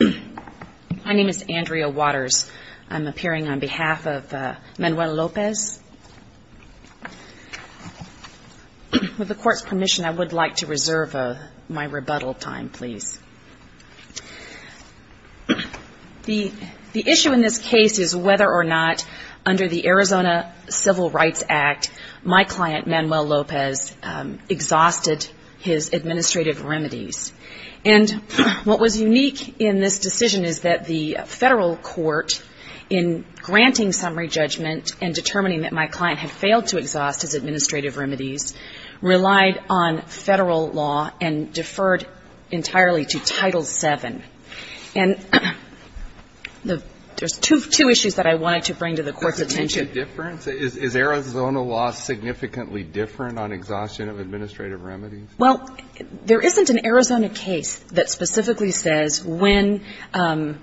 My name is Andrea Waters. I'm appearing on behalf of Manuel Lopez. With the Court's permission, I would like to reserve my rebuttal time, please. The issue in this case is whether or not, under the Arizona Civil Rights Act, my client, in this decision, is that the Federal court, in granting summary judgment and determining that my client had failed to exhaust his administrative remedies, relied on Federal law and deferred entirely to Title VII. And there's two issues that I wanted to bring to the Court's attention. Is Arizona law significantly different on exhaustion of administrative remedies? Well, there isn't an Arizona case that specifically says when an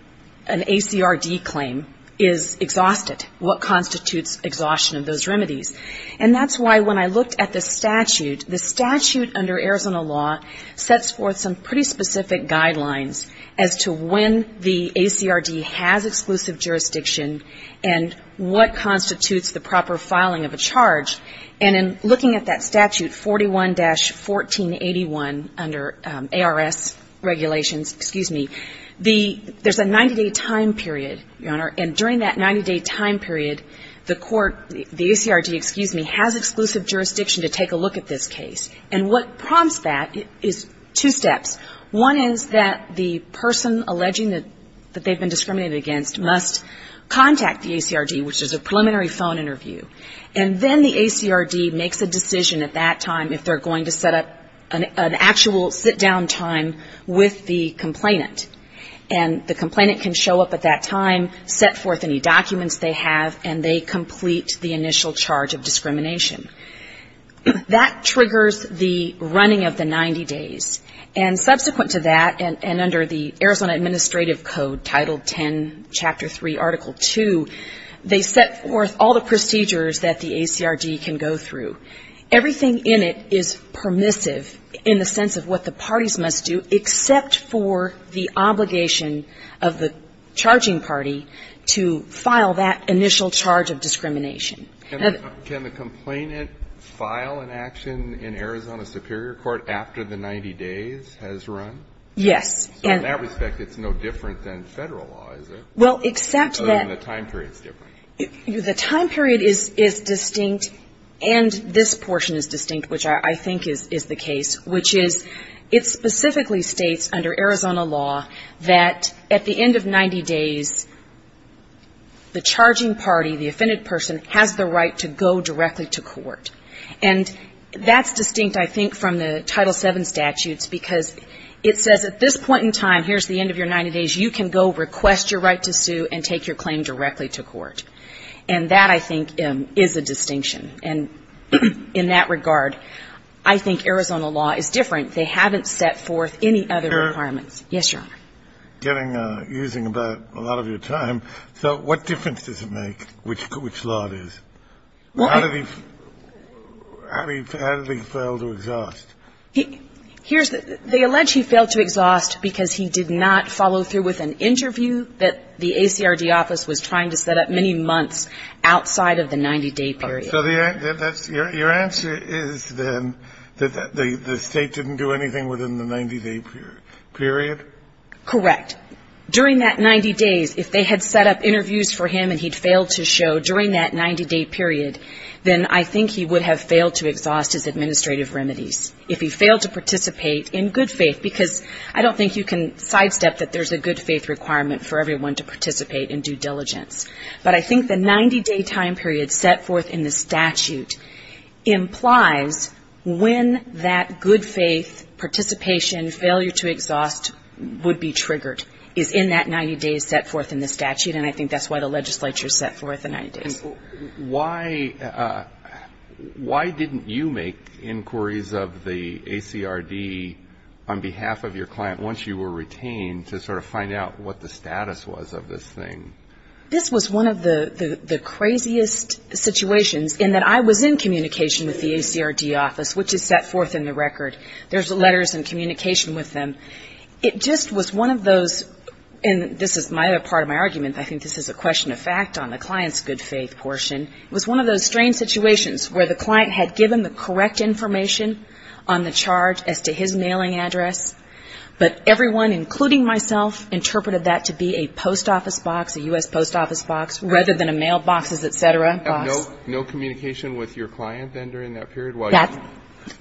ACRD claim is exhausted, what constitutes exhaustion of those remedies. And that's why, when I looked at the statute, the statute under Arizona law sets forth some pretty specific guidelines as to when the ACRD has exclusive jurisdiction and what constitutes the proper filing of a charge. And in looking at that statute, 41-1481, under ARS regulations, excuse me, the — there's a 90-day time period, Your Honor, and during that 90-day time period, the court, the ACRD, excuse me, has exclusive jurisdiction to take a look at this case. And what prompts that is two steps. One is that the person alleging that they've been discriminated against must contact the ACRD, which is a preliminary phone interview. And then the ACRD makes a decision at that time if they're going to set up an actual sit-down time with the complainant. And the complainant can show up at that time, set forth any documents they have, and they complete the initial charge of discrimination. That triggers the running of the 90 days. And subsequent to that, and under the Arizona Administrative Code, Title 10, Chapter 3, Article 2, they set forth all the procedures that the ACRD can go through. Everything in it is permissive in the sense of what the parties must do, except for the obligation of the charging party to file that initial charge of discrimination. And the — Can the complainant file an action in Arizona Superior Court after the 90 days has run? Yes. So in that respect, it's no different than Federal law, is it? Well, except that — Other than the time period is different. The time period is distinct, and this portion is distinct, which I think is the case, which is it specifically states under Arizona law that at the end of 90 days, the charging party, the offended person, has the right to go directly to court. And that's distinct, I think, from the Title VII statutes, because it says at this point in time, here's the end of your 90 days, you can go request your right to sue and take your claim directly to court. And that, I think, is a distinction. And in that regard, I think Arizona law is different. They haven't set forth any other requirements. Yes, Your Honor. Getting — using about a lot of your time, so what difference does it make which law it is? Well — How did he fail to exhaust? Here's the — they allege he failed to exhaust because he did not follow through with an interview that the ACRD office was trying to set up many months outside of the 90-day period. So that's — your answer is, then, that the State didn't do anything within the 90-day period? Correct. During that 90 days, if they had set up interviews for him and he'd failed to show during that 90-day period, then I think he would have failed to exhaust his administrative remedies. If he failed to participate in good faith — because I don't think you can sidestep that there's a good faith requirement for everyone to participate in due diligence. But I think the 90-day time period set forth in the statute implies when that good faith participation failure to exhaust would be triggered, is in that 90 days set forth in the statute. And I think that's why the legislature set forth the 90 days. Why didn't you make inquiries of the ACRD on behalf of your client once you were retained to sort of find out what the status was of this thing? This was one of the craziest situations in that I was in communication with the ACRD office, which is set forth in the record. There's letters and communication with them. It just was one of those — and this is part of my argument. I think this is a question of fact on the client's good faith portion. It was one of those strange situations where the client had given the correct information on the charge as to his mailing address, but everyone, including myself, interpreted that to be a post office box, a U.S. post office box, rather than a mailboxes, et cetera, box. No communication with your client then during that period?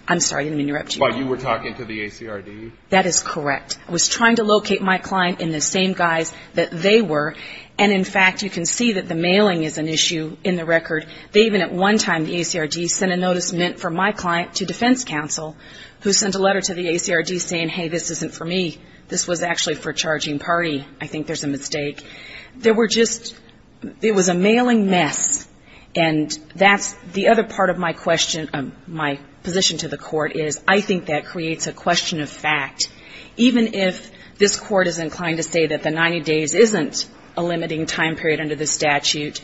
I'm sorry. Let me interrupt you. While you were talking to the ACRD? That is correct. I was trying to locate my client in the same guise that they were. And in fact, you can see that the mailing is an issue in the record. They even at one time, the ACRD, sent a notice meant for my client to defense counsel who sent a letter to the ACRD saying, hey, this isn't for me. This was actually for a charging party. I think there's a mistake. There were just — it was a mailing mess. And that's the other part of my question, my position to the court is I think that creates a question of fact. Even if this court is inclined to say that the 90 days isn't a limiting time period under the statute,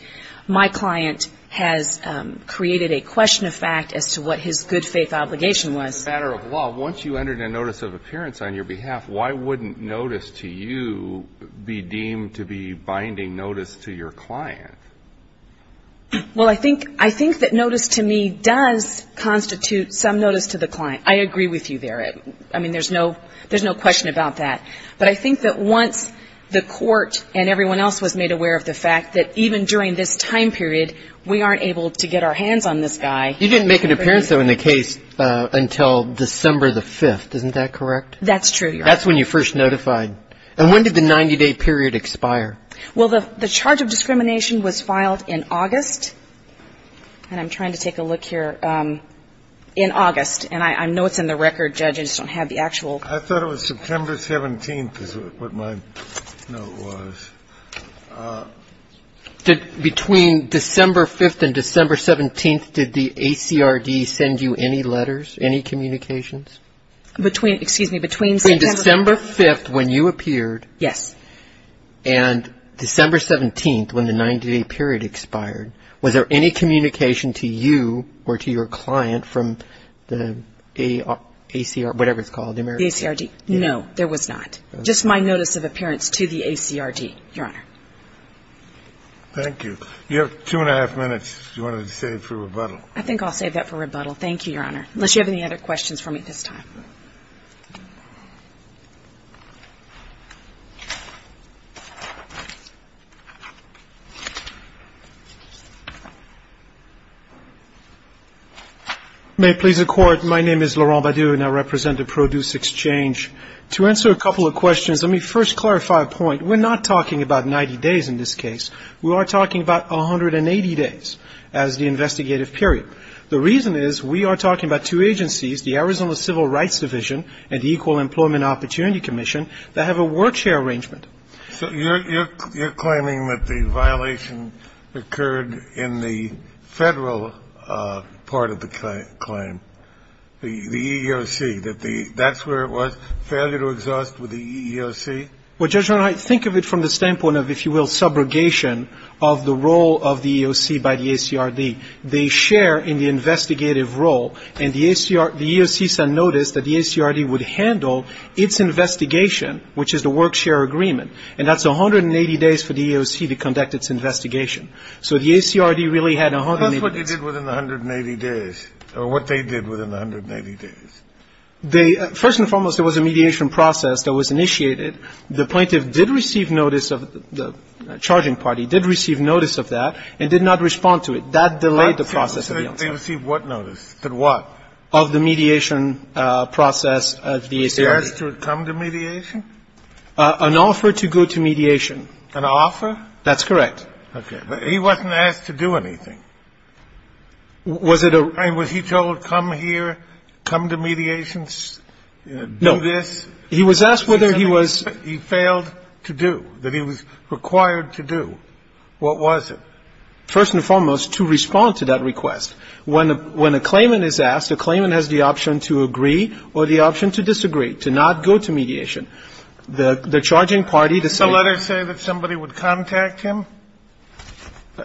my client has created a question of fact as to what his good faith obligation was. As a matter of law, once you entered a notice of appearance on your behalf, why wouldn't notice to you be deemed to be binding notice to your client? Well, I think that notice to me does constitute some notice to the client. I agree with you there. I mean, there's no question about that. But I think that once the court and everyone else was made aware of the fact that even during this time period, we aren't able to get our hands on this guy. You didn't make an appearance, though, in the case until December the 5th. Isn't that correct? That's true, Your Honor. That's when you first notified. And when did the 90-day period expire? Well, the charge of discrimination was filed in August. And I'm trying to take a look here. In August. And I know it's in the record, Judge, I just don't have the actual I thought it was September 17th is what my note was. Between December 5th and December 17th, did the ACRD send you any letters, any communications? Between, excuse me, between September Between December 5th when you appeared Yes. And December 17th when the 90-day period expired, was there any communication to you or to your client from the ACR, whatever it's called, the American The ACRD. No, there was not. Just my notice of appearance to the ACRD, Your Honor. Thank you. You have two and a half minutes if you wanted to save for rebuttal. I think I'll save that for rebuttal. Thank you, Your Honor. Unless you have any other questions for me this time. May it please the Court, my name is Laurent Badu and I represent the Produce Exchange. To answer a couple of questions, let me first clarify a point. We're not talking about 90 days in this case. We are talking about 180 days as the investigative period. The reason is we are talking about two agencies, the Arizona Civil Rights Agency and the Arizona Equal Employment Opportunity Commission, that have a work share arrangement. So you're claiming that the violation occurred in the Federal part of the claim, the EEOC, that that's where it was, failure to exhaust with the EEOC? Well, Judge, when I think of it from the standpoint of, if you will, subrogation of the role of the EEOC by the ACRD, they share in the investigative role, and the EEOC takes a notice that the ACRD would handle its investigation, which is the work share agreement, and that's 180 days for the EEOC to conduct its investigation. So the ACRD really had 180 days. But that's what they did within the 180 days, or what they did within the 180 days. First and foremost, there was a mediation process that was initiated. The plaintiff did receive notice of the charging party, did receive notice of that, and did not respond to it. That delayed the process. They received what notice? Did what? Notice of the mediation process of the ACRD. They asked to come to mediation? An offer to go to mediation. An offer? That's correct. Okay. But he wasn't asked to do anything. Was it a ---- I mean, was he told, come here, come to mediation, do this? No. He was asked whether he was ---- He said he failed to do, that he was required to do. What was it? First and foremost, to respond to that request. When a claimant is asked, a claimant has the option to agree or the option to disagree, to not go to mediation. The charging party decided ---- Did the letter say that somebody would contact him?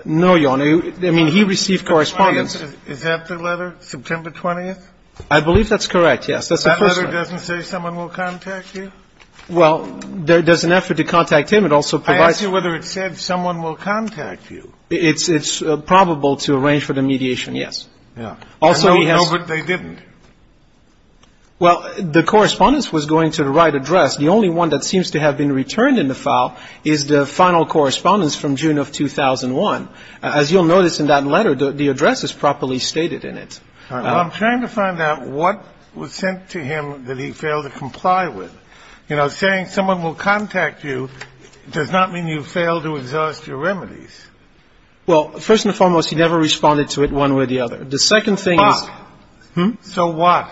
No, Your Honor. I mean, he received correspondence. Is that the letter, September 20th? I believe that's correct, yes. That's the first one. That letter doesn't say someone will contact you? Well, there's an effort to contact him. It also provides ---- It's probable to arrange for the mediation, yes. Yeah. Also, he has ---- No, but they didn't. Well, the correspondence was going to the right address. The only one that seems to have been returned in the file is the final correspondence from June of 2001. As you'll notice in that letter, the address is properly stated in it. I'm trying to find out what was sent to him that he failed to comply with. You know, saying someone will contact you does not mean you failed to exhaust your remedies. Well, first and foremost, he never responded to it one way or the other. The second thing is ---- Why? Hmm? So what?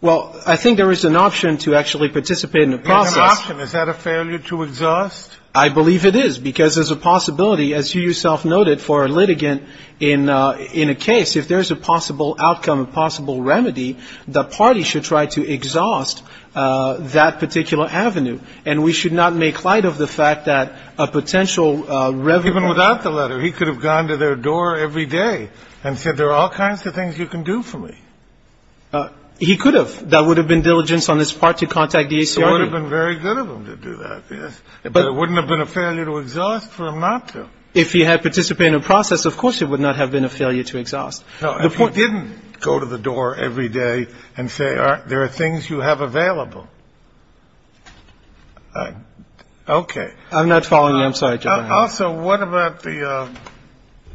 Well, I think there is an option to actually participate in the process. There's an option. Is that a failure to exhaust? I believe it is, because there's a possibility, as you yourself noted, for a litigant in a case, if there's a possible outcome, a possible remedy, the party should try to exhaust that particular avenue, and we should not make light of the fact that a potential remedy ---- Even without the letter, he could have gone to their door every day and said there are all kinds of things you can do for me. He could have. That would have been diligence on his part to contact the ACRB. It would have been very good of him to do that, yes. But it wouldn't have been a failure to exhaust for him not to. If he had participated in the process, of course it would not have been a failure to exhaust. If he didn't go to the door every day and say there are things you have available ---- Okay. I'm not following you. I'm sorry. Also, what about the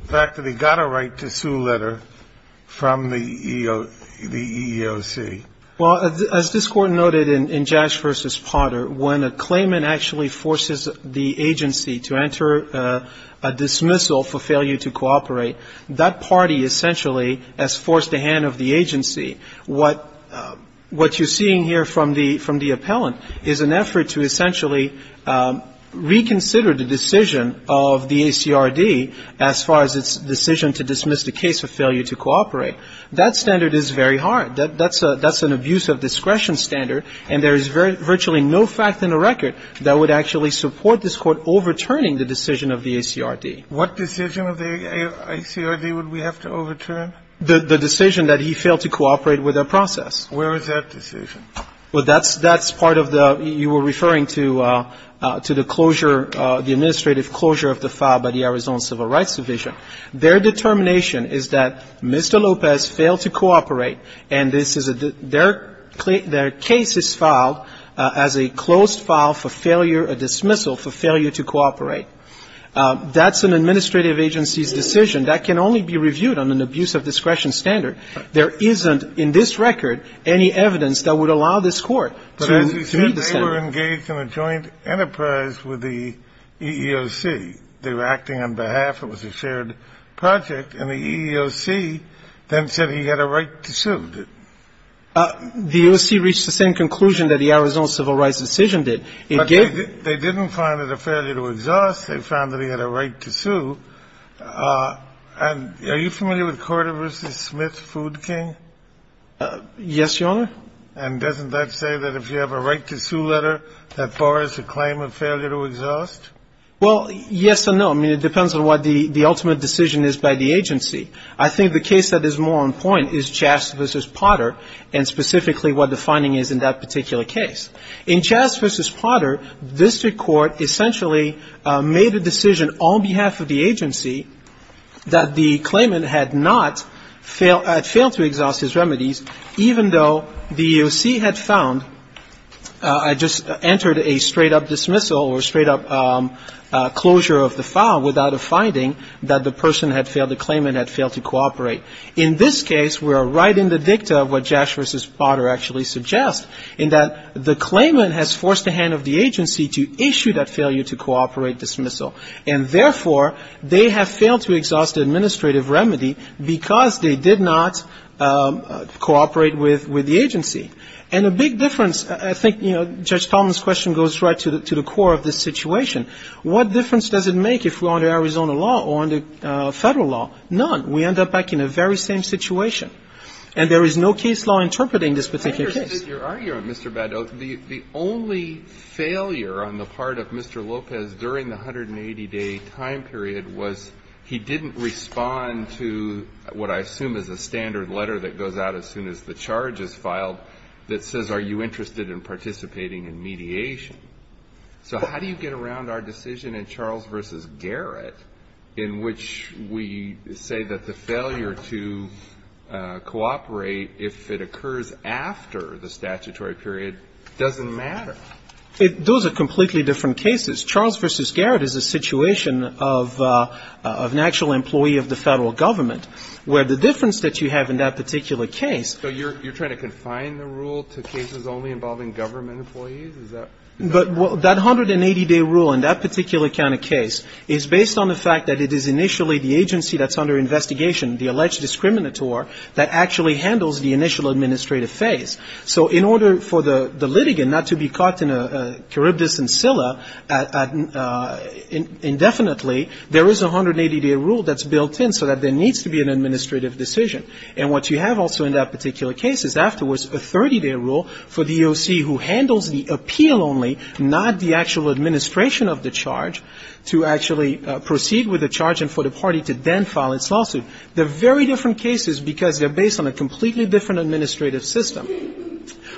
fact that he got a right to sue letter from the EEOC? Well, as this Court noted in Jash v. Potter, when a claimant actually forces the agency to enter a dismissal for failure to cooperate, that party essentially has forced the hand of the agency. What you're seeing here from the appellant is an effort to essentially reconsider the decision of the ACRB as far as its decision to dismiss the case of failure to cooperate. That standard is very hard. That's an abuse of discretion standard, and there is virtually no fact in the record that would actually support this Court overturning the decision of the ACRB. What decision of the ACRB would we have to overturn? The decision that he failed to cooperate with the process. Where is that decision? Well, that's part of the ---- you were referring to the closure, the administrative closure of the file by the Arizona Civil Rights Division. Their determination is that Mr. Lopez failed to cooperate, and this is a ---- their case is filed as a closed file for failure, a dismissal for failure to cooperate. That's an administrative agency's decision. That can only be reviewed on an abuse of discretion standard. There isn't in this record any evidence that would allow this Court to meet the standard. But as you said, they were engaged in a joint enterprise with the EEOC. They were acting on behalf. It was a shared project, and the EEOC then said he had a right to sue. The EEOC reached the same conclusion that the Arizona Civil Rights Division did. It gave ---- But they didn't find it a failure to exhaust. They found that he had a right to sue. And are you familiar with Corder v. Smith, Food King? Yes, Your Honor. And doesn't that say that if you have a right to sue letter, that bars the claim of failure to exhaust? Well, yes and no. I mean, it depends on what the ultimate decision is by the agency. I think the case that is more on point is Chast v. Potter, and specifically what the finding is in that particular case. In Chast v. Potter, this Court essentially made a decision on behalf of the agency that the claimant had not failed to exhaust his remedies, even though the EEOC had found ---- I just entered a straight-up dismissal or a straight-up closure of the file without a finding that the person had failed, the claimant had failed to cooperate. In this case, we are right in the dicta of what Chast v. Potter actually suggests, in that the claimant has forced the hand of the agency to issue that failure to cooperate dismissal. And therefore, they have failed to exhaust the administrative remedy because they did not cooperate with the agency. And a big difference, I think, you know, Judge Talman's question goes right to the core of this situation. What difference does it make if we're under Arizona law or under Federal law? None. We end up back in a very same situation. And there is no case law interpreting this particular case. I understand your argument, Mr. Badot. The only failure on the part of Mr. Lopez during the 180-day time period was he didn't respond to what I assume is a standard letter that goes out as soon as the charge is filed that says are you interested in participating in mediation. So how do you get around our decision in Charles v. Garrett in which we say that the failure to cooperate, if it occurs after the statutory period, doesn't matter? Those are completely different cases. Charles v. Garrett is a situation of an actual employee of the Federal Government, where the difference that you have in that particular case — So you're trying to confine the rule to cases only involving government employees? But that 180-day rule in that particular kind of case is based on the fact that it is initially the agency that's under investigation, the alleged discriminator, that actually handles the initial administrative phase. So in order for the litigant not to be caught in a charybdis and scylla indefinitely, there is a 180-day rule that's built in so that there needs to be an administrative decision. And what you have also in that particular case is afterwards a 30-day rule for the EOC who handles the appeal only, not the actual administration of the charge, to actually proceed with the charge and for the party to then file its lawsuit. They're very different cases because they're based on a completely different administrative system.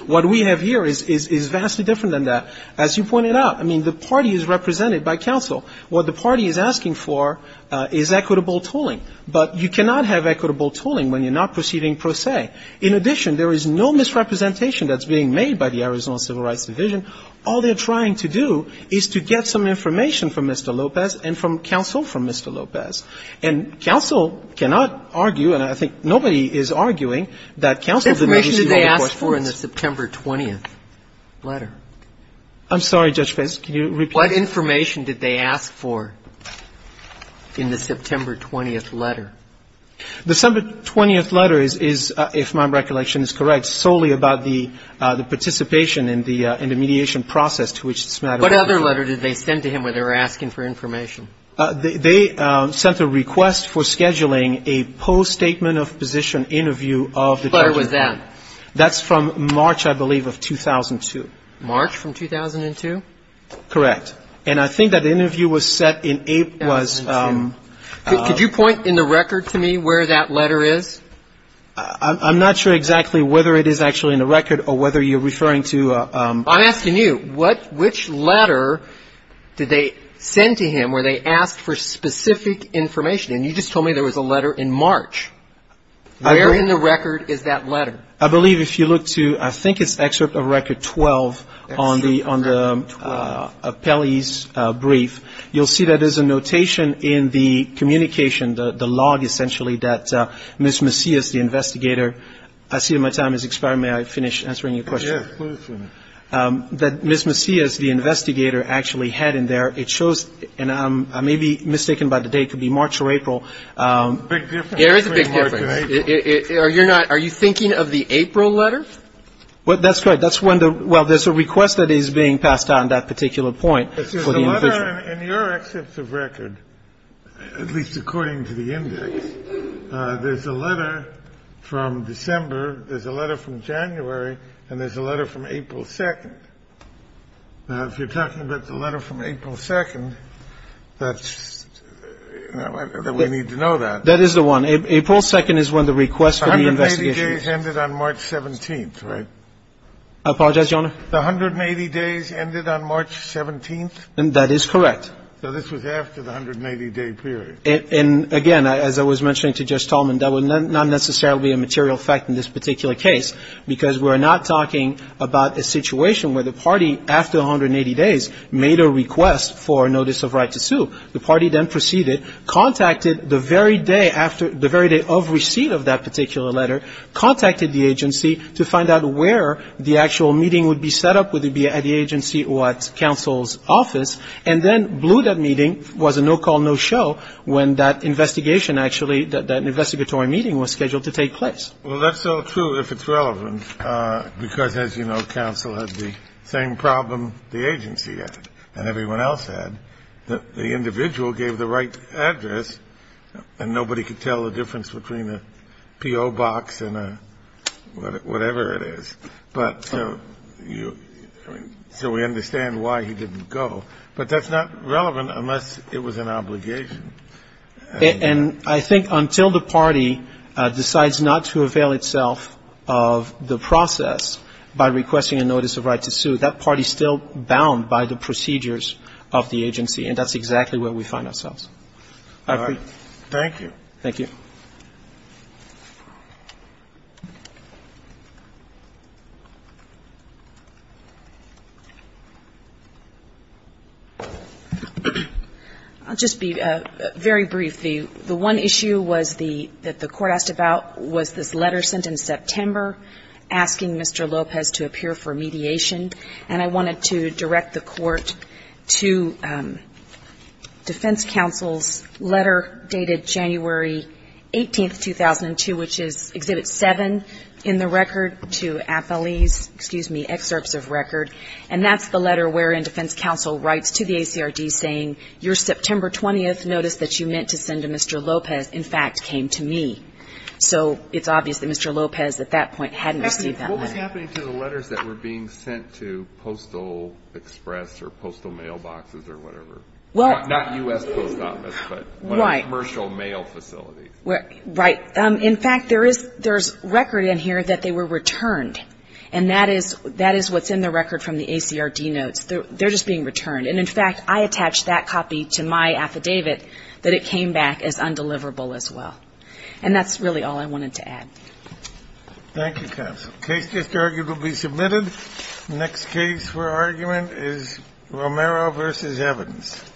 What we have here is vastly different than that. As you pointed out, I mean, the party is represented by counsel. What the party is asking for is equitable tooling. But you cannot have equitable tooling when you're not proceeding pro se. In addition, there is no misrepresentation that's being made by the Arizona Civil Rights Division. All they're trying to do is to get some information from Mr. Lopez and from counsel from Mr. Lopez. And counsel cannot argue, and I think nobody is arguing, that counsel is the agency that holds the questions. What information did they ask for in the September 20th letter? I'm sorry, Judge Fitts. Can you repeat that? What information did they ask for in the September 20th letter? The September 20th letter is, if my recollection is correct, solely about the participation in the mediation process to which this matter pertains. What other letter did they send to him where they were asking for information? They sent a request for scheduling a post-statement of position interview of the judge. Where was that? That's from March, I believe, of 2002. March from 2002? Correct. And I think that the interview was set in April. Could you point in the record to me where that letter is? I'm not sure exactly whether it is actually in the record or whether you're referring to ---- I'm asking you, which letter did they send to him where they asked for specific information? And you just told me there was a letter in March. Where in the record is that letter? I believe if you look to, I think it's excerpt of record 12 on the appellee's brief, you'll see that there's a notation in the communication, the log, essentially, that Ms. Macias, the investigator, I see that my time has expired. May I finish answering your question? Yes, please do. That Ms. Macias, the investigator, actually had in there, it shows, and I may be mistaken by the date, could be March or April. Big difference between March and April. There is a big difference. Are you not ---- are you thinking of the April letter? That's right. That's when the ---- well, there's a request that is being passed down at that particular point. There's a letter in your excerpt of record, at least according to the index, there's a letter from December, there's a letter from January, and there's a letter from April 2nd. Now, if you're talking about the letter from April 2nd, that's ---- we need to know that. That is the one. April 2nd is when the request for the investigation is. The 180 days ended on March 17th, right? I apologize, Your Honor. The 180 days ended on March 17th? That is correct. So this was after the 180-day period. And again, as I was mentioning to Judge Tallman, that would not necessarily be a material fact in this particular case, because we are not talking about a situation where the party, after 180 days, made a request for a notice of right to sue. The party then proceeded, contacted the very day after ---- the very day of receipt of that particular letter, contacted the agency to find out where the actual meeting would be set up, would it be at the agency or at counsel's office, and then blew that meeting, was a no-call, no-show, when that investigation actually, that investigatory meeting was scheduled to take place. Well, that's so true if it's relevant, because as you know, counsel had the same problem the agency had and everyone else had, that the individual gave the right address and nobody could tell the difference between a P.O. box and a whatever it is. But so you ---- so we understand why he didn't go. But that's not relevant unless it was an obligation. And I think until the party decides not to avail itself of the process by requesting a notice of right to sue, that party is still bound by the procedures of the agency. And that's exactly where we find ourselves. I agree. Thank you. Thank you. I'll just be very brief. The one issue was the ---- that the Court asked about was this letter sent in September asking Mr. Lopez to appear for mediation. And I wanted to direct the Court to defense counsel's letter dated January 18th, 2002, which is Exhibit 7 in the record to affilies, excuse me, excerpts of record. And that's the letter wherein defense counsel writes to the ACRD saying, your September 20th notice that you meant to send to Mr. Lopez, in fact, came to me. So it's obvious that Mr. Lopez at that point hadn't received that letter. What was happening to the letters that were being sent to Postal Express or postal mailboxes or whatever? Not U.S. Post Office, but commercial mail facilities. Right. In fact, there is record in here that they were returned. And that is what's in the record from the ACRD notes. They're just being returned. And, in fact, I attached that copy to my affidavit that it came back as undeliverable as well. And that's really all I wanted to add. Thank you, counsel. The case just argued will be submitted. The next case for argument is Romero v. Evans.